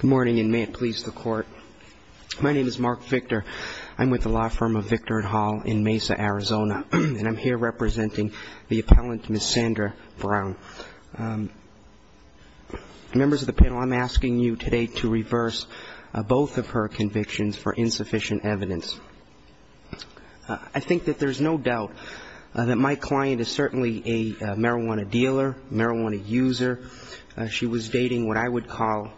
Good morning, and may it please the Court. My name is Mark Victor. I'm with the law firm of Victor at Hall in Mesa, Arizona, and I'm here representing the appellant Miss Sandra Brown. Members of the panel, I'm asking you today to reverse both of her convictions for insufficient evidence. I think that there's no doubt that my client is certainly a marijuana dealer, marijuana user. She was dating what I would call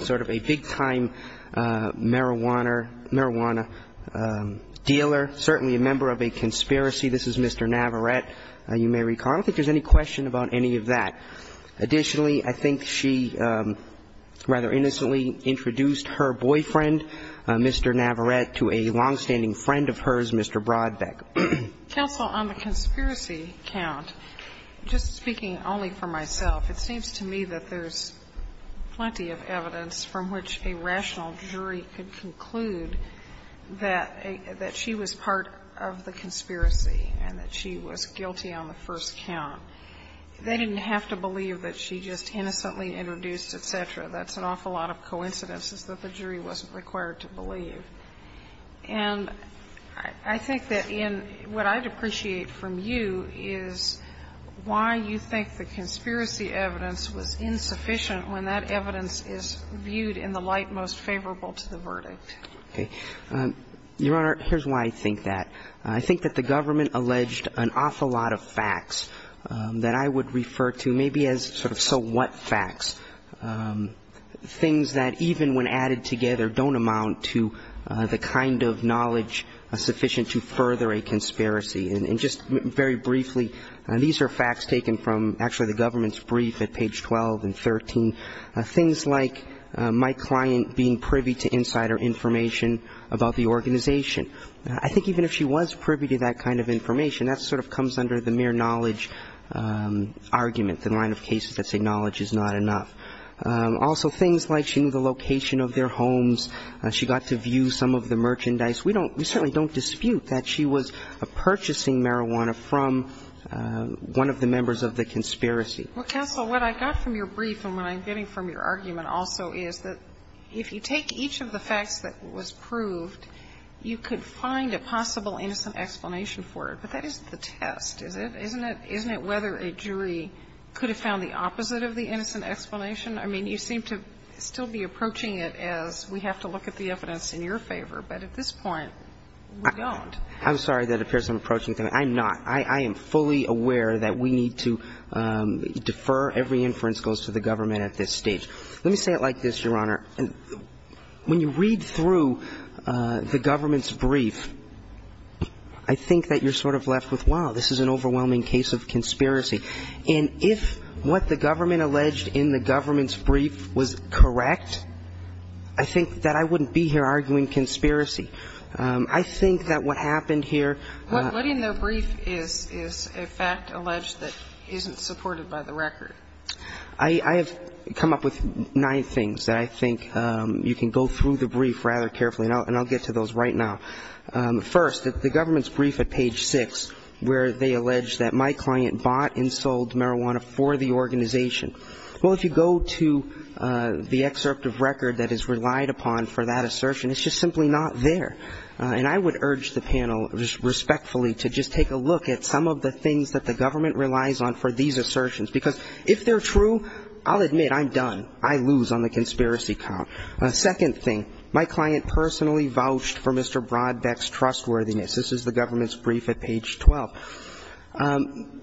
sort of a big-time marijuana dealer, certainly a member of a conspiracy. This is Mr. Navarette, you may recall. I don't think there's any question about any of that. Additionally, I think she rather innocently introduced her boyfriend, Mr. Navarette, to a longstanding friend of hers, Mr. Brodbeck. Counsel, on the conspiracy count, just speaking only for myself, it seems to me that there's plenty of evidence from which a rational jury could conclude that she was part of the conspiracy and that she was guilty on the first count. They didn't have to believe that she just innocently introduced, et cetera. That's an awful lot of coincidences that the jury wasn't required to believe. And I think that in what I'd appreciate from you is why you think the conspiracy evidence was insufficient when that evidence is viewed in the light most favorable to the verdict. Okay. Your Honor, here's why I think that. I think that the government alleged an awful lot of facts that I would refer to maybe as sort of so what facts, things that even when added together don't amount to the kind of knowledge sufficient to further a conspiracy. And just very briefly, these are facts taken from actually the government's brief at page 12 and 13, things like my client being privy to insider information about the organization. I think even if she was privy to that kind of information, that sort of comes under the mere knowledge argument, the line of cases that say knowledge is not enough. Also things like she knew the location of their homes, she got to view some of the merchandise. We don't we certainly don't dispute that she was purchasing marijuana from one of the members of the conspiracy. Well, counsel, what I got from your brief and what I'm getting from your argument also is that if you take each of the facts that was proved, you could find a possible innocent explanation for it. But that isn't the test, is it? Isn't it whether a jury could have found the opposite of the innocent explanation? I mean, you seem to still be approaching it as we have to look at the evidence in your favor. But at this point, we don't. I'm sorry that appears I'm approaching things. I'm not. I am fully aware that we need to defer every inference goes to the government at this stage. Let me say it like this, Your Honor. When you read through the government's brief, I think that you're sort of left with, wow, this is an overwhelming case of conspiracy. And if what the government alleged in the government's brief was correct, I think that I wouldn't be here arguing conspiracy. I think that what happened here ---- What in the brief is a fact alleged that isn't supported by the record? I have come up with nine things that I think you can go through the brief rather carefully, and I'll get to those right now. First, the government's brief at page six where they allege that my client bought and sold marijuana for the organization. Well, if you go to the excerpt of record that is relied upon for that assertion, it's just simply not there. And I would urge the panel respectfully to just take a look at some of the things that the government relies on for these assertions, because if they're true, I'll admit I'm done. I lose on the conspiracy count. Second thing, my client personally vouched for Mr. Brodbeck's trustworthiness. This is the government's brief at page 12.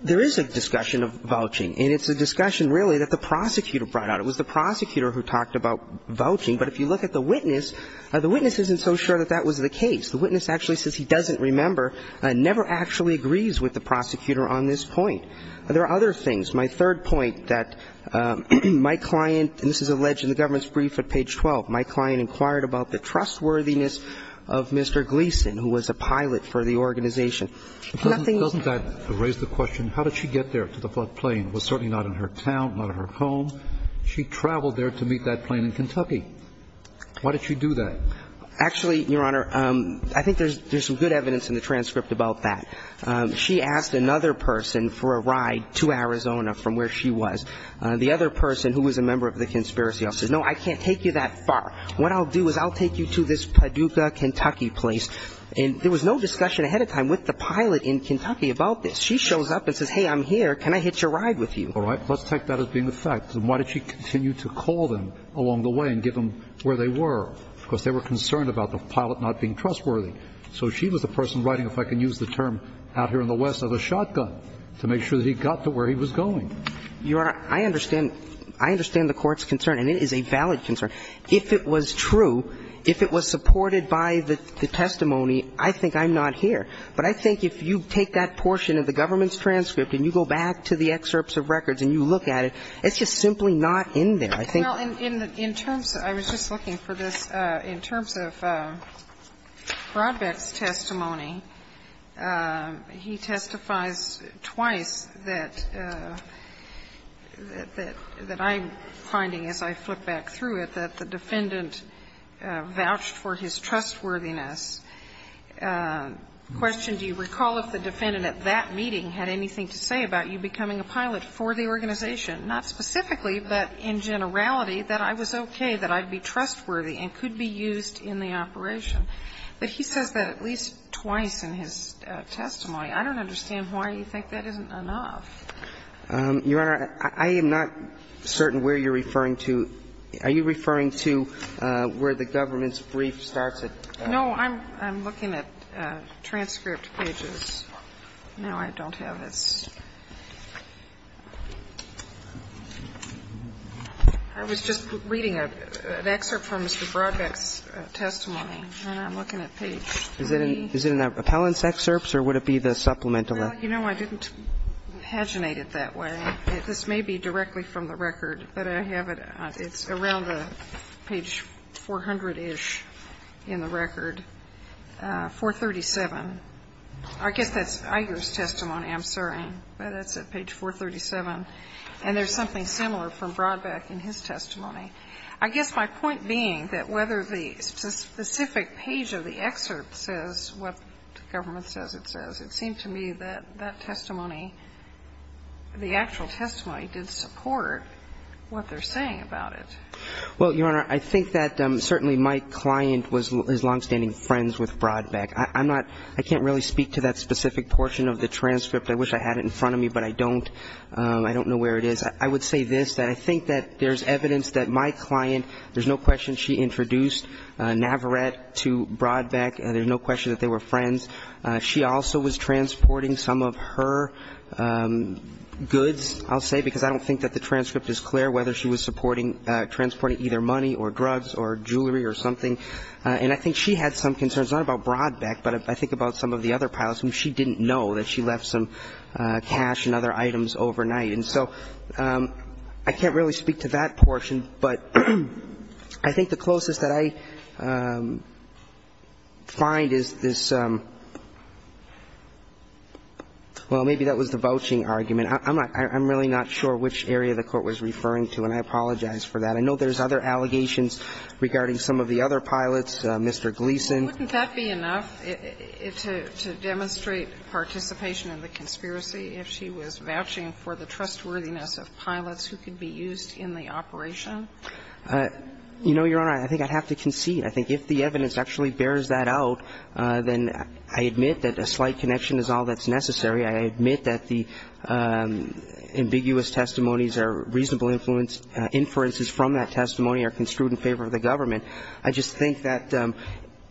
There is a discussion of vouching, and it's a discussion really that the prosecutor brought out. It was the prosecutor who talked about vouching. But if you look at the witness, the witness isn't so sure that that was the case. The witness actually says he doesn't remember, never actually agrees with the prosecutor on this point. There are other things. My third point that my client, and this is alleged in the government's brief at page 12, my client inquired about the trustworthiness of Mr. Gleeson, who was a pilot for the organization. Nothing else. Doesn't that raise the question, how did she get there to the plane? It was certainly not in her town, not in her home. She traveled there to meet that plane in Kentucky. Why did she do that? Actually, Your Honor, I think there's some good evidence in the transcript about that. She asked another person for a ride to Arizona from where she was. The other person, who was a member of the conspiracy office, said, no, I can't take you that far. What I'll do is I'll take you to this Paducah, Kentucky place. And there was no discussion ahead of time with the pilot in Kentucky about this. She shows up and says, hey, I'm here. Can I hitch a ride with you? All right. Let's take that as being the fact. And why did she continue to call them along the way and get them where they were? Because they were concerned about the pilot not being trustworthy. So she was the person writing, if I can use the term out here in the West, of a shotgun to make sure that he got to where he was going. Your Honor, I understand the Court's concern, and it is a valid concern. If it was true, if it was supported by the testimony, I think I'm not here. But I think if you take that portion of the government's transcript and you go back to the excerpts of records and you look at it, it's just simply not in there. I think in the terms that I was just looking for this, in terms of Brodbeck's testimony, he testifies twice that I'm finding as I flip back though it that the defendant vouched for his trustworthiness. The question, do you recall if the defendant at that meeting had anything to say about you becoming a pilot for the organization, not specifically but in generality, that I was okay, that I'd be trustworthy and could be used in the operation. But he says that at least twice in his testimony. I don't understand why you think that isn't enough. Your Honor, I am not certain where you're referring to. Are you referring to where the government's brief starts at? No, I'm looking at transcript pages. No, I don't have his. I was just reading an excerpt from Mr. Brodbeck's testimony, and I'm looking at page 3. Is it in the appellant's excerpts or would it be the supplemental? Well, you know, I didn't paginate it that way. This may be directly from the record, but I have it. It's around page 400-ish in the record, 437. I guess that's Iger's testimony. I'm sorry. But it's at page 437. And there's something similar from Brodbeck in his testimony. I guess my point being that whether the specific page of the excerpt says what the government says it says, it seemed to me that that testimony, the actual testimony did support what they're saying about it. Well, Your Honor, I think that certainly my client was his longstanding friends with Brodbeck. I'm not ñ I can't really speak to that specific portion of the transcript. I wish I had it in front of me, but I don't. I don't know where it is. I would say this, that I think that there's evidence that my client, there's no question she introduced Navarette to Brodbeck. There's no question that they were friends. She also was transporting some of her goods, I'll say, because I don't think that the transcript is clear, whether she was transporting either money or drugs or jewelry or something. And I think she had some concerns, not about Brodbeck, but I think about some of the other pilots who she didn't know that she left some cash and other items overnight. And so I can't really speak to that portion, but I think the closest that I find is this ñ well, maybe that was the vouching argument. I'm not ñ I'm really not sure which area the Court was referring to, and I apologize for that. But I know there's other allegations regarding some of the other pilots, Mr. Gleason. Wouldn't that be enough to demonstrate participation in the conspiracy if she was vouching for the trustworthiness of pilots who could be used in the operation? You know, Your Honor, I think I'd have to concede. I think if the evidence actually bears that out, then I admit that a slight connection is all that's necessary. I admit that the ambiguous testimonies or reasonable inferences from that testimony are construed in favor of the government. I just think that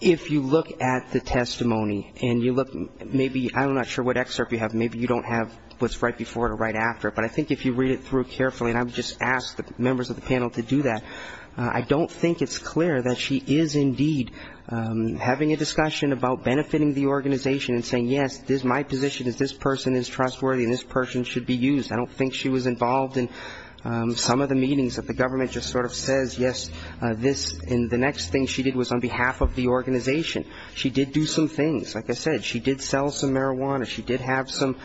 if you look at the testimony and you look maybe ñ I'm not sure what excerpt you have. Maybe you don't have what's right before it or right after it. But I think if you read it through carefully, and I would just ask the members of the panel to do that, I don't think it's clear that she is indeed having a discussion about benefiting the organization and saying, yes, my position is this person is trustworthy and this person should be used. I don't think she was involved in some of the meetings that the government just sort of says, yes, this ñ and the next thing she did was on behalf of the organization. She did do some things. Like I said, she did sell some marijuana. She did have some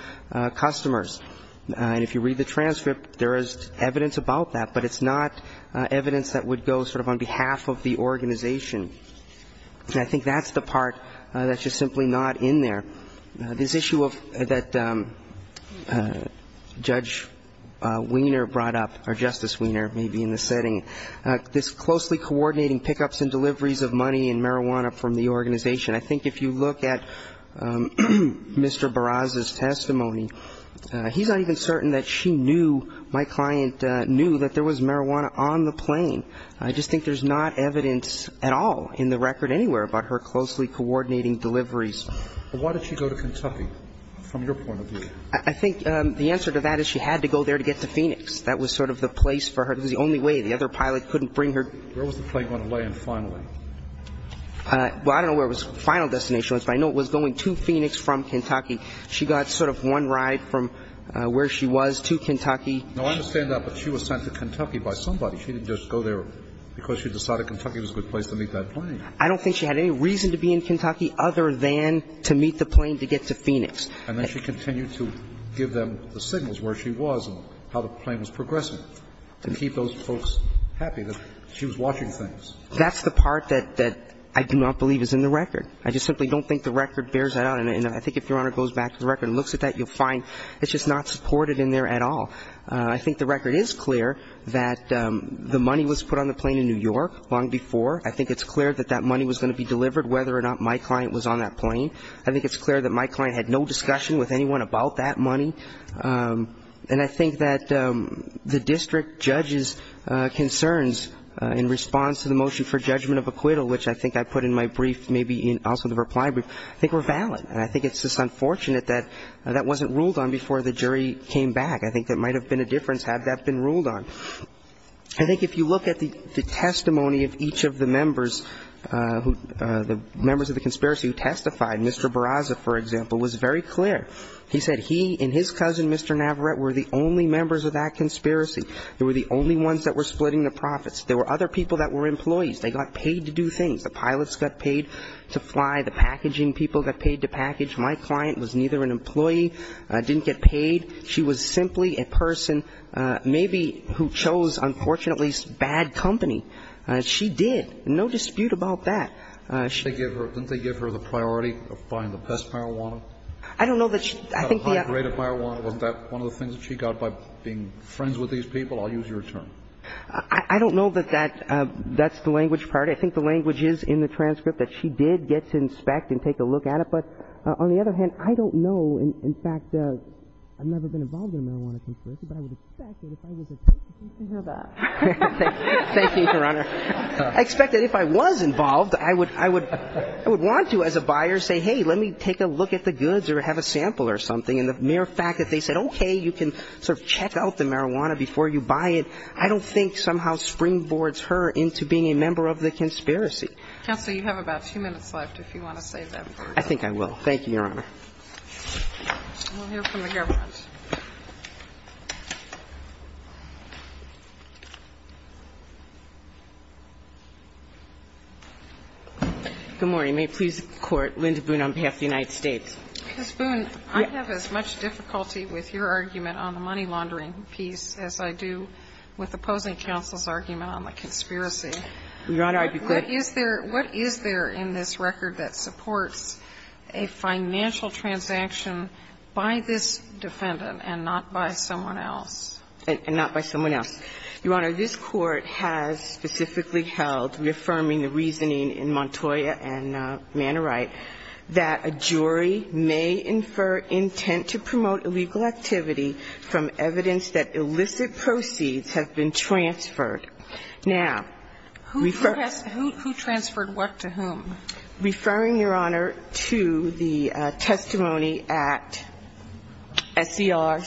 customers. And if you read the transcript, there is evidence about that. But it's not evidence that would go sort of on behalf of the organization. And I think that's the part that's just simply not in there. This issue of ñ that Judge Wiener brought up, or Justice Wiener maybe in this setting, this closely coordinating pickups and deliveries of money and marijuana from the organization, I think if you look at Mr. Barraza's testimony, he's not even certain that she knew, my client knew, that there was marijuana on the plane. I just think there's not evidence at all in the record anywhere about her closely coordinating deliveries. But why did she go to Kentucky from your point of view? I think the answer to that is she had to go there to get to Phoenix. That was sort of the place for her. It was the only way. The other pilot couldn't bring her. Where was the plane going to land finally? Well, I don't know where it was final destination. I know it was going to Phoenix from Kentucky. She got sort of one ride from where she was to Kentucky. No, I understand that. But she was sent to Kentucky by somebody. She didn't just go there because she decided Kentucky was a good place to meet that plane. I don't think she had any reason to be in Kentucky other than to meet the plane to get to Phoenix. And then she continued to give them the signals where she was and how the plane was progressing and keep those folks happy that she was watching things. That's the part that I do not believe is in the record. I just simply don't think the record bears that out. And I think if Your Honor goes back to the record and looks at that, you'll find it's just not supported in there at all. I think the record is clear that the money was put on the plane in New York long before. I think it's clear that that money was going to be delivered whether or not my client was on that plane. I think it's clear that my client had no discussion with anyone about that money. And I think that the district judge's concerns in response to the motion for judgment of acquittal, which I think I put in my brief, maybe also in the reply brief, I think were valid. And I think it's just unfortunate that that wasn't ruled on before the jury came back. I think that might have been a difference had that been ruled on. I think if you look at the testimony of each of the members, the members of the conspiracy who testified, Mr. Barraza, for example, was very clear. He said he and his cousin, Mr. Navarrete, were the only members of that conspiracy. They were the only ones that were splitting the profits. There were other people that were employees. They got paid to do things. The pilots got paid to fly. The packaging people got paid to package. My client was neither an employee, didn't get paid. She was simply a person maybe who chose, unfortunately, bad company. She did. No dispute about that. Kennedy. Didn't they give her the priority of buying the best marijuana? I don't know that she got a high grade of marijuana. Wasn't that one of the things she got by being friends with these people? I'll use your term. I don't know that that's the language part. I think the language is in the transcript that she did get to inspect and take a look But on the other hand, I don't know. In fact, I've never been involved in a marijuana conspiracy, but I would expect that if I was involved, I would want to as a buyer say, hey, let me take a look at the goods or have a sample or something. And the mere fact that they said, okay, you can sort of check out the marijuana before you buy it, I don't think somehow springboards her into being a member of the conspiracy. Counsel, you have about two minutes left if you want to say that. I think I will. Thank you, Your Honor. We'll hear from the government. Good morning. May it please the Court. Linda Boone on behalf of the United States. Ms. Boone, I have as much difficulty with your argument on the money laundering piece as I do with opposing counsel's argument on the conspiracy. Your Honor, I beg your pardon. What is there in this record that supports a financial transaction by this defendant and not by someone else? And not by someone else. Your Honor, this Court has specifically held, reaffirming the reasoning in Montoya and Manorite, that a jury may infer intent to promote illegal activity from evidence that illicit proceeds have been transferred. Now, referring to the testimony at SCR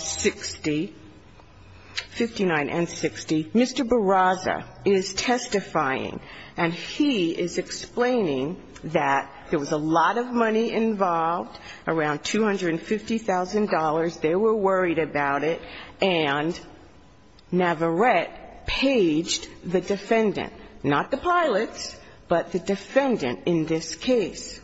59 and 60, Mr. Barraza is testifying and he is explaining that there was a lot of money involved, around $250,000. They were worried about it. And Navarette paged the defendant, not the pilots, but the defendant in this case.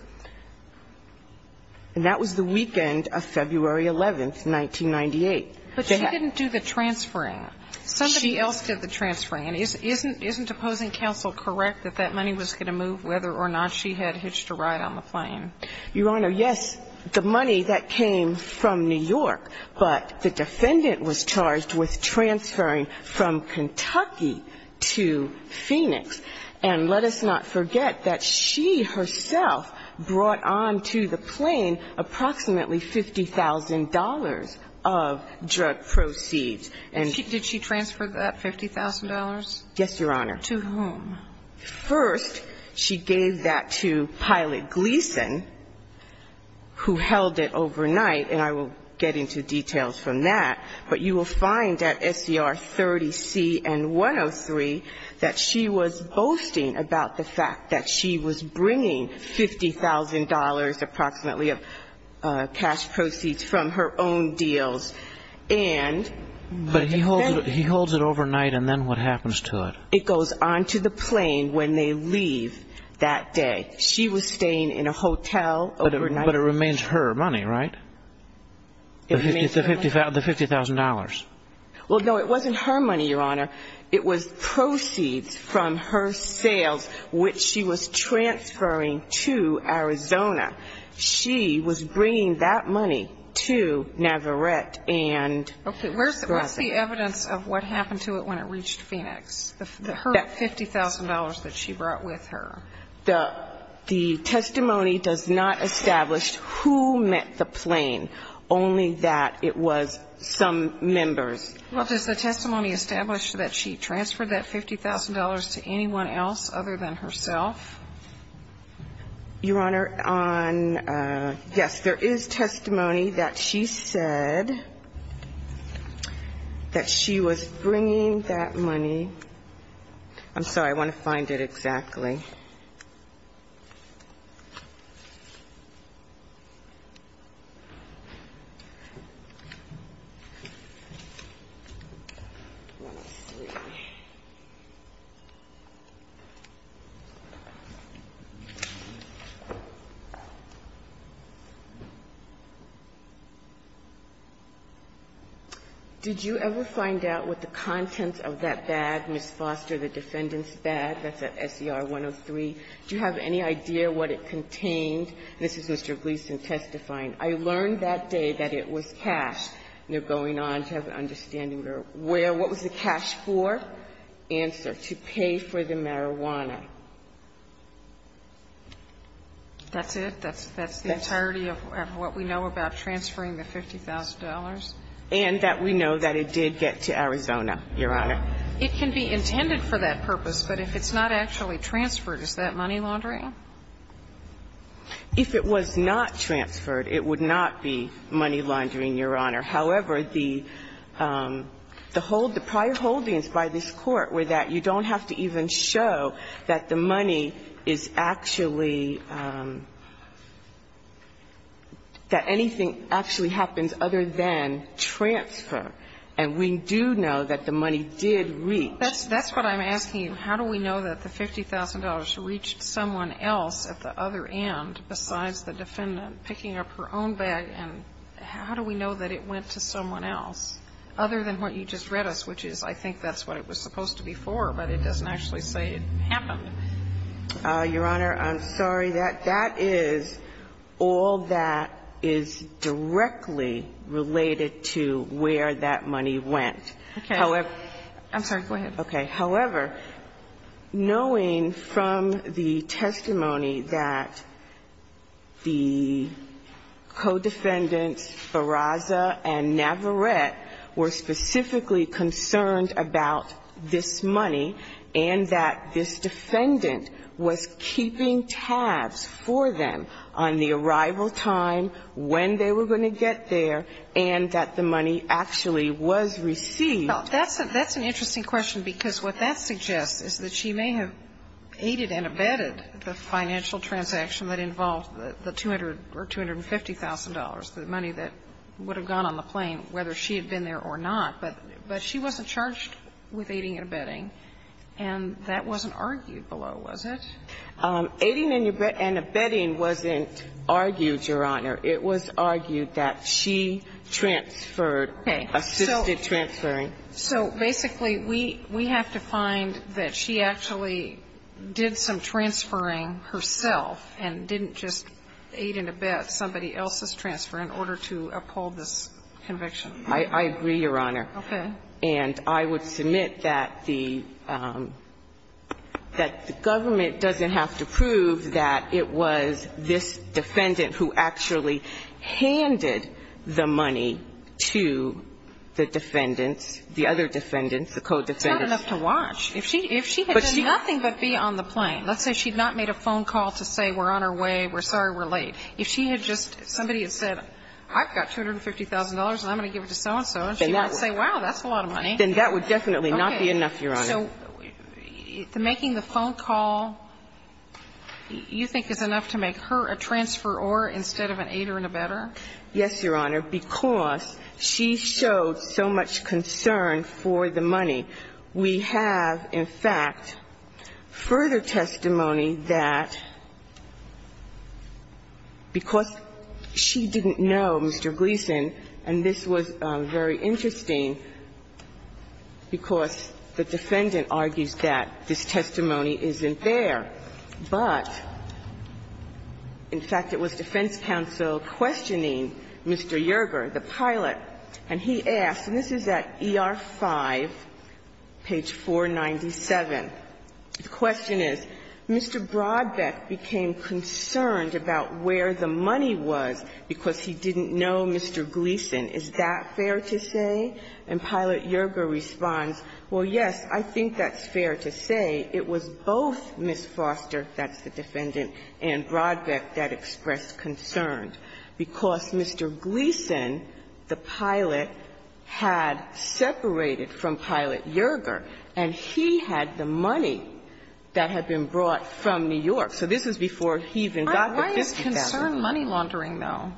And that was the weekend of February 11th, 1998. But she didn't do the transferring. Somebody else did the transferring. And isn't opposing counsel correct that that money was going to move whether or not she had hitched a ride on the plane? Your Honor, yes. The money, that came from New York. But the defendant was charged with transferring from Kentucky to Phoenix. And let us not forget that she herself brought on to the plane approximately $50,000 of drug proceeds. Did she transfer that $50,000? Yes, Your Honor. To whom? First, she gave that to Pilot Gleason, who held it overnight. And I won't get into details from that. But you will find at SCR 30C and 103 that she was boasting about the fact that she was bringing $50,000 approximately of cash proceeds from her own deals. But he holds it overnight, and then what happens to it? It goes on to the plane when they leave that day. She was staying in a hotel overnight. But it remains her money, right? The $50,000. Well, no, it wasn't her money, Your Honor. It was proceeds from her sales, which she was transferring to Arizona. She was bringing that money to Navarrete and Grosvenor. Okay. What's the evidence of what happened to it when it reached Phoenix, the $50,000 that she brought with her? The testimony does not establish who met the plane, only that it was some members. Well, does the testimony establish that she transferred that $50,000 to anyone else other than herself? Your Honor, on yes, there is testimony that she said that she was bringing that money. I'm sorry. I want to find it exactly. Let's see. Did you ever find out what the contents of that bag, Ms. Foster, the defendant's Do you have any idea what it contained? This is Mr. Gleeson testifying. I learned that day that it was cash. You're going on to have an understanding. What was the cash for? Answer. To pay for the marijuana. That's it? That's the entirety of what we know about transferring the $50,000? And that we know that it did get to Arizona, Your Honor. It can be intended for that purpose, but if it's not actually transferred, is that money laundering? If it was not transferred, it would not be money laundering, Your Honor. However, the hold, the prior holdings by this Court were that you don't have to even show that the money is actually, that anything actually happens other than transfer. And we do know that the money did reach. That's what I'm asking you. How do we know that the $50,000 reached someone else at the other end besides the defendant picking up her own bag, and how do we know that it went to someone else other than what you just read us, which is I think that's what it was supposed to be for, but it doesn't actually say it happened. Your Honor, I'm sorry. That is all that is directly related to where that money went. Okay. However. I'm sorry. Go ahead. Okay. However, knowing from the testimony that the co-defendants Barraza and Navarette were specifically concerned about this money and that this defendant was keeping tabs for them on the arrival time, when they were going to get there, and that the money actually was received. That's an interesting question, because what that suggests is that she may have aided and abetted the financial transaction that involved the $200,000 or $250,000, the money that would have gone on the plane whether she had been there or not. But she wasn't charged with aiding and abetting. And that wasn't argued below, was it? Aiding and abetting wasn't argued, Your Honor. It was argued that she transferred, assisted transferring. So basically, we have to find that she actually did some transferring herself and didn't just aid and abet somebody else's transfer in order to uphold this conviction. I agree, Your Honor. Okay. And I would submit that the government doesn't have to prove that it was this defendant who actually handed the money to the defendants, the other defendants, the co-defendants. It's not enough to watch. If she had done nothing but be on the plane, let's say she had not made a phone call to say we're on our way, we're sorry we're late. If she had just, if somebody had said I've got $250,000 and I'm going to give it to you, so-and-so, and she wouldn't say, wow, that's a lot of money. Then that would definitely not be enough, Your Honor. Okay. So making the phone call, you think, is enough to make her a transferor instead of an aider and abetter? Yes, Your Honor, because she showed so much concern for the money. We have, in fact, further testimony that because she didn't know Mr. Gleason, and this was very interesting, because the defendant argues that this testimony isn't there, but, in fact, it was defense counsel questioning Mr. Yerger, the pilot, and he asked, and this is at ER-5, page 497, the question is, Mr. Brodbeck became concerned about where the money was because he didn't know Mr. Gleason. Is that fair to say? And Pilot Yerger responds, well, yes, I think that's fair to say. It was both Ms. Foster, that's the defendant, and Brodbeck that expressed concern, because Mr. Gleason, the pilot, had separated from Pilot Yerger, and he had the money that had been brought from New York. So this is before he even got the $50,000. Why is concern money laundering, though,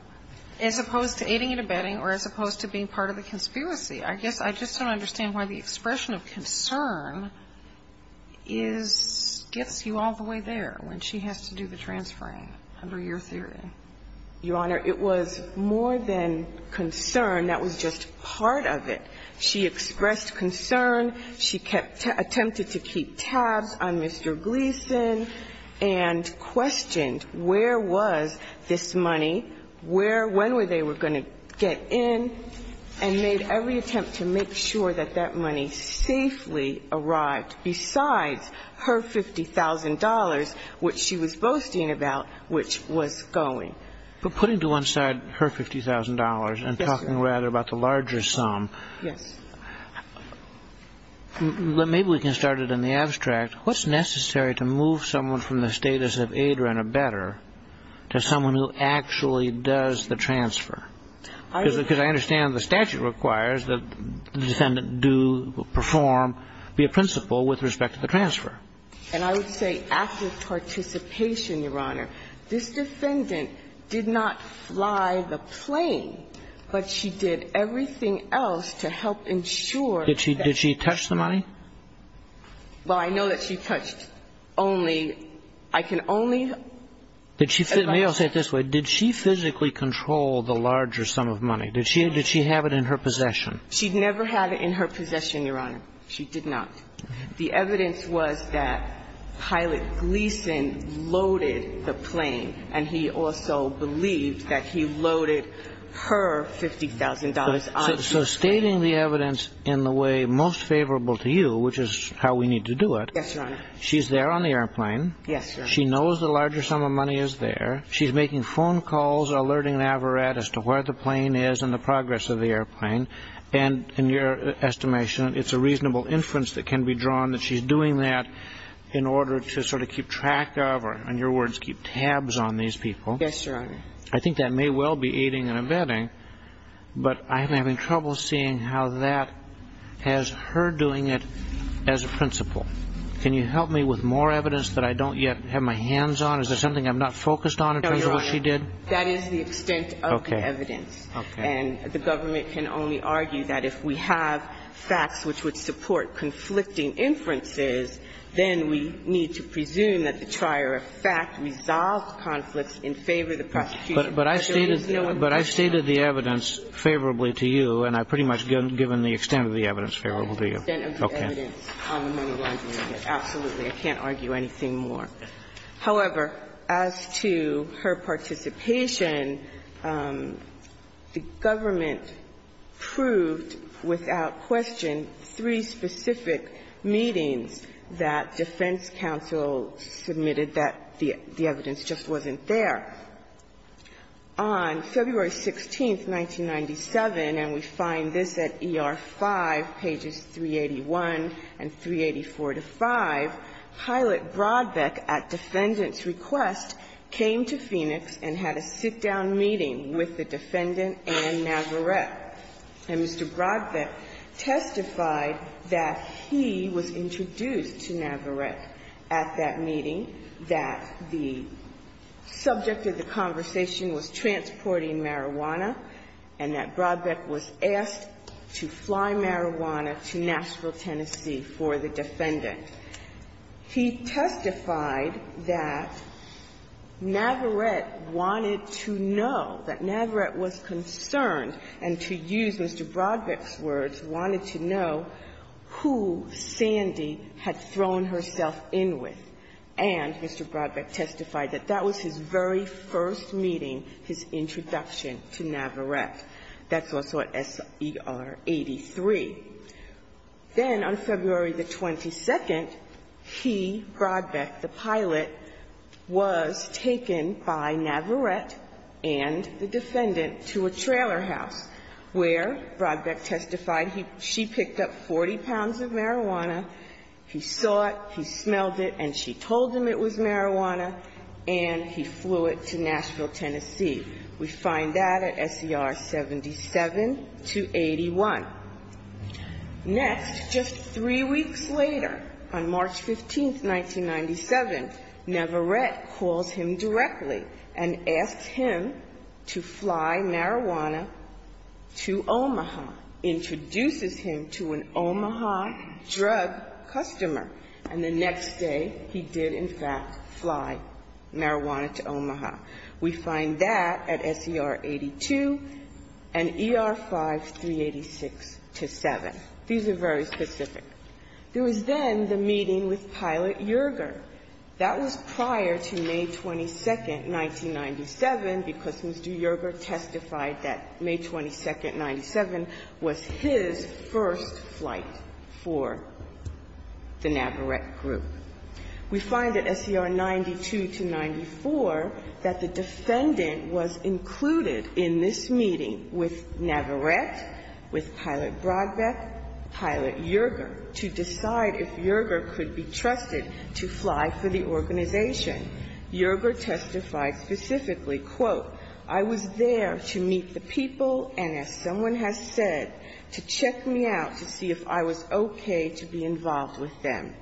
as opposed to aiding and abetting or as opposed to being part of the conspiracy? I guess I just don't understand why the expression of concern is – gets you all the way there when she has to do the transferring under your theory. Your Honor, it was more than concern. That was just part of it. She expressed concern. She kept – attempted to keep tabs on Mr. Gleason and questioned where was this money, where – when were they going to get in, and made every attempt to make sure that that money safely arrived besides her $50,000, which she was boasting about, which was going. But putting to one side her $50,000 and talking rather about the larger sum. Yes. But maybe we can start it in the abstract. What's necessary to move someone from the status of aider and abetter to someone who actually does the transfer? Because I understand the statute requires that the defendant do perform, be a principal with respect to the transfer. And I would say active participation, Your Honor. This defendant did not fly the plane, but she did everything else to help ensure that she – Did she touch the money? Well, I know that she touched only – I can only – Let me say it this way. Did she physically control the larger sum of money? Did she have it in her possession? She never had it in her possession, Your Honor. She did not. The evidence was that Pilot Gleason loaded the plane, and he also believed that he loaded her $50,000 on his plane. So stating the evidence in the way most favorable to you, which is how we need to do it – Yes, Your Honor. She's there on the airplane. Yes, Your Honor. She knows the larger sum of money is there. She's making phone calls, alerting Navarat as to where the plane is and the progress of the airplane. And in your estimation, it's a reasonable inference that can be drawn that she's doing that in order to sort of keep track of or, in your words, keep tabs on these people. Yes, Your Honor. I think that may well be aiding and abetting, but I'm having trouble seeing how that has her doing it as a principle. Can you help me with more evidence that I don't yet have my hands on? Is there something I'm not focused on in terms of what she did? No, Your Honor. That is the extent of the evidence. Okay. And the government can only argue that if we have facts which would support conflicting inferences, then we need to presume that the trier of fact resolved conflicts in favor of the prosecution. But I stated the evidence favorably to you, and I've pretty much given the extent of the evidence favorable to you. Okay. Absolutely. I can't argue anything more. However, as to her participation, the government proved without question three specific meetings that defense counsel submitted that the evidence just wasn't there. On February 16th, 1997, and we find this at ER-5, pages 381 and 384 to 5, Pilate testified that Mr. Brodbeck, at defendant's request, came to Phoenix and had a sit-down meeting with the defendant and Navarrette. And Mr. Brodbeck testified that he was introduced to Navarrette at that meeting, that the subject of the conversation was transporting marijuana, and that Brodbeck was asked to fly marijuana to Nashville, Tennessee, for the defendant. He testified that Navarrette wanted to know, that Navarrette was concerned and, to use Mr. Brodbeck's words, wanted to know who Sandy had thrown herself in with. And Mr. Brodbeck testified that that was his very first meeting, his introduction to Navarrette. That's also at S.E.R. 83. Then, on February the 22nd, he, Brodbeck, the pilot, was taken by Navarrette and the defendant to a trailer house, where Brodbeck testified she picked up 40 pounds of marijuana. He saw it, he smelled it, and she told him it was marijuana, and he flew it to Nashville, Tennessee. We find that at S.E.R. 77 to 81. Next, just three weeks later, on March 15th, 1997, Navarrette calls him directly and asks him to fly marijuana to Omaha, introduces him to an Omaha drug customer. And the next day, he did, in fact, fly marijuana to Omaha. We find that at S.E.R. 82 and E.R. 5386 to 7. These are very specific. There was then the meeting with Pilot Yerger. That was prior to May 22nd, 1997, because Mr. Yerger testified that May 22nd, 1997 was his first flight for the Navarrette group. We find at S.E.R. 92 to 94 that the defendant was included in this meeting with Navarrette, with Pilot Brodbeck, Pilot Yerger, to decide if Yerger could be trusted to fly for the organization. Yerger testified specifically, quote, I was there to meet the people and, as someone has said, to check me out to see if I was okay to be involved with them.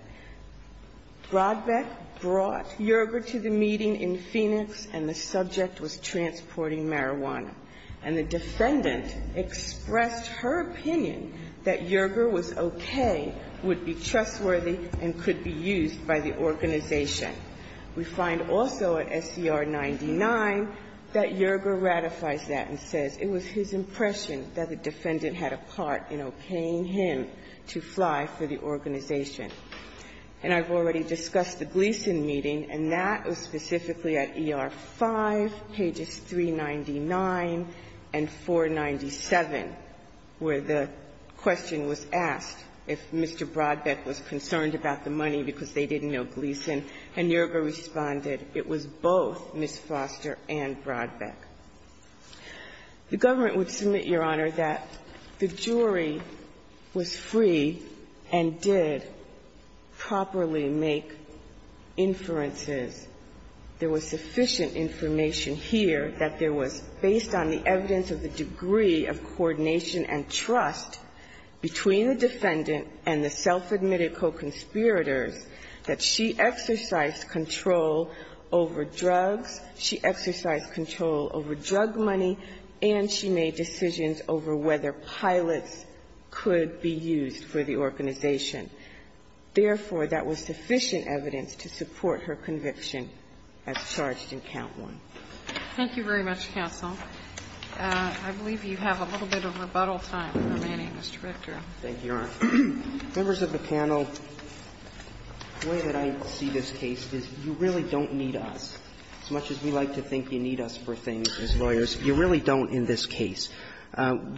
Brodbeck brought Yerger to the meeting in Phoenix, and the subject was transporting marijuana. And the defendant expressed her opinion that Yerger was okay, would be trustworthy, and could be used by the organization. We find also at S.E.R. 99 that Yerger ratifies that and says it was his impression that the defendant had a part in okaying him to fly for the organization. And I've already discussed the Gleason meeting, and that was specifically at ER 5, pages 399 and 497, where the question was asked if Mr. Brodbeck was concerned about the money because they didn't know Gleason. And Yerger responded, it was both Ms. Foster and Brodbeck. The government would submit, Your Honor, that the jury was free and did properly make inferences. There was sufficient information here that there was, based on the evidence of the conspirators, that she exercised control over drugs, she exercised control over drug money, and she made decisions over whether pilots could be used for the organization. Therefore, that was sufficient evidence to support her conviction as charged in Count 1. Thank you very much, counsel. I believe you have a little bit of rebuttal time remaining, Mr. Victor. Thank you, Your Honor. Members of the panel, the way that I see this case is you really don't need us. As much as we like to think you need us for things as lawyers, you really don't in this case.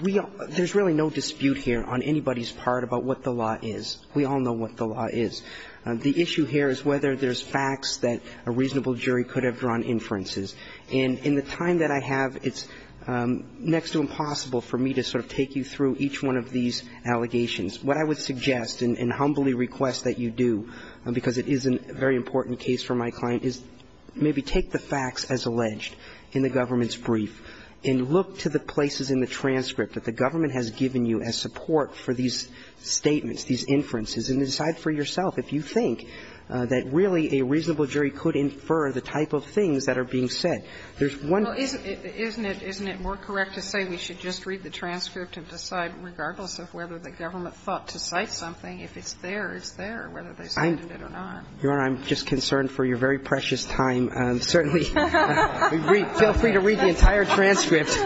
We don't – there's really no dispute here on anybody's part about what the law is. We all know what the law is. The issue here is whether there's facts that a reasonable jury could have drawn inferences. And in the time that I have, it's next to impossible for me to sort of take you through each one of these allegations. What I would suggest and humbly request that you do, because it is a very important case for my client, is maybe take the facts as alleged in the government's brief and look to the places in the transcript that the government has given you as support for these statements, these inferences, and decide for yourself if you think that really a reasonable jury could infer the type of things that are being said. There's one – Well, isn't it more correct to say we should just read the transcript and decide, regardless of whether the government thought to cite something, if it's there, it's there, whether they cited it or not. Your Honor, I'm just concerned for your very precious time. Certainly, feel free to read the entire transcript.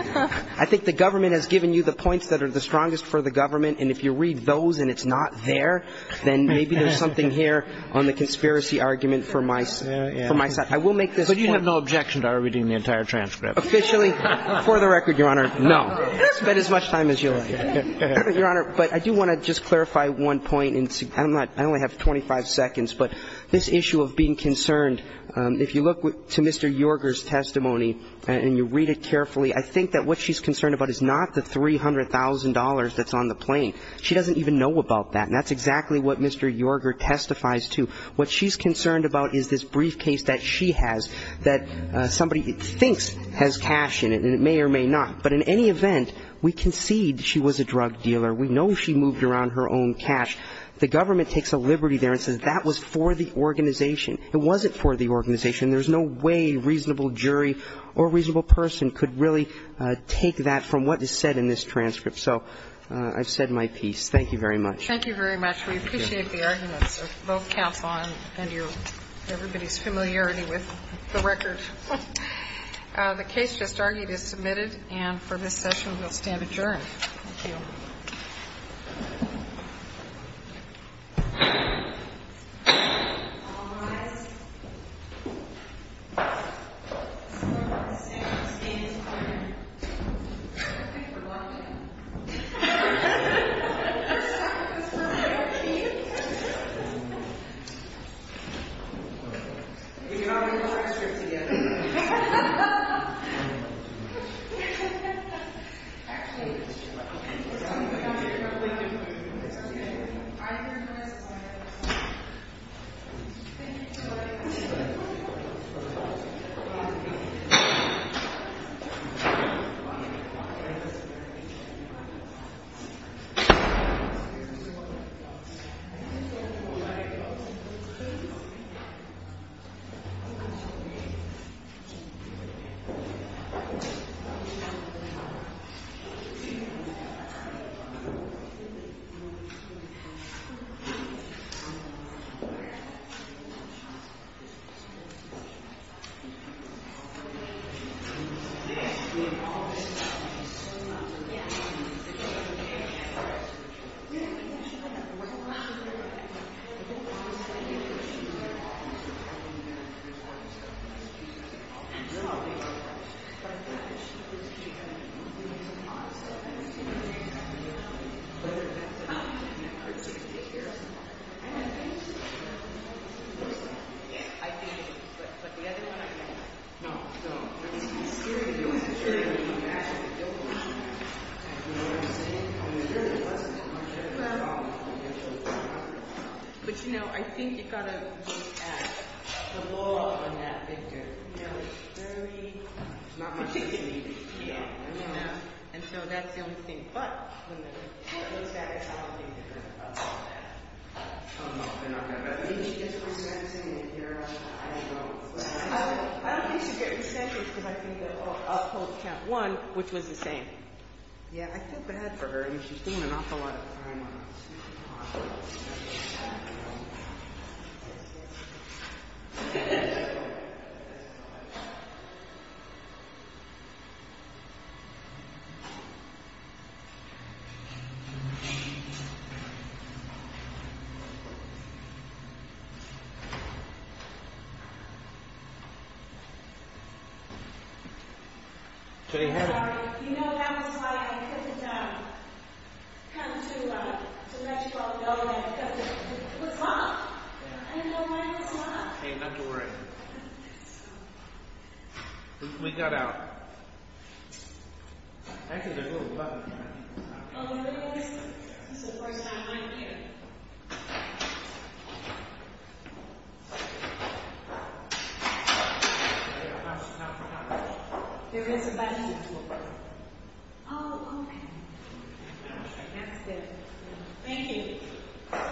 I think the government has given you the points that are the strongest for the government, and if you read those and it's not there, then maybe there's something here on the conspiracy argument for my – for my side. I will make this point. But you have no objection to our reading the entire transcript? Officially, for the record, Your Honor, no. Spend as much time as you like. Your Honor, but I do want to just clarify one point, and I'm not – I only have 25 seconds, but this issue of being concerned, if you look to Mr. Yorger's testimony and you read it carefully, I think that what she's concerned about is not the $300,000 that's on the plane. She doesn't even know about that, and that's exactly what Mr. Yorger testifies to. What she's concerned about is this briefcase that she has that somebody thinks has cash in it, and it may or may not. But in any event, we concede she was a drug dealer. We know she moved around her own cash. The government takes a liberty there and says that was for the organization. It wasn't for the organization. There's no way a reasonable jury or a reasonable person could really take that from what is said in this transcript. So I've said my piece. Thank you very much. Thank you very much. We appreciate the arguments of both counsel and your – everybody's familiarity with the record. The case just argued is submitted, and for this session we'll stand adjourned. Thank you. Thank you. Thank you. Thank you. Thank you. Thank you. Thank you so much. J. Hancock. Sorry, do you know that was why I couldn't come to let you all know that because it was locked? Yeah. I didn't know mine was locked. Hey, not to worry. We got out. Actually, there's a little button down here. Oh, there is? This is the first time I'm here. There is a button down here. Oh, okay. That's good. Thank you. Thank you. Thank you. Thank you.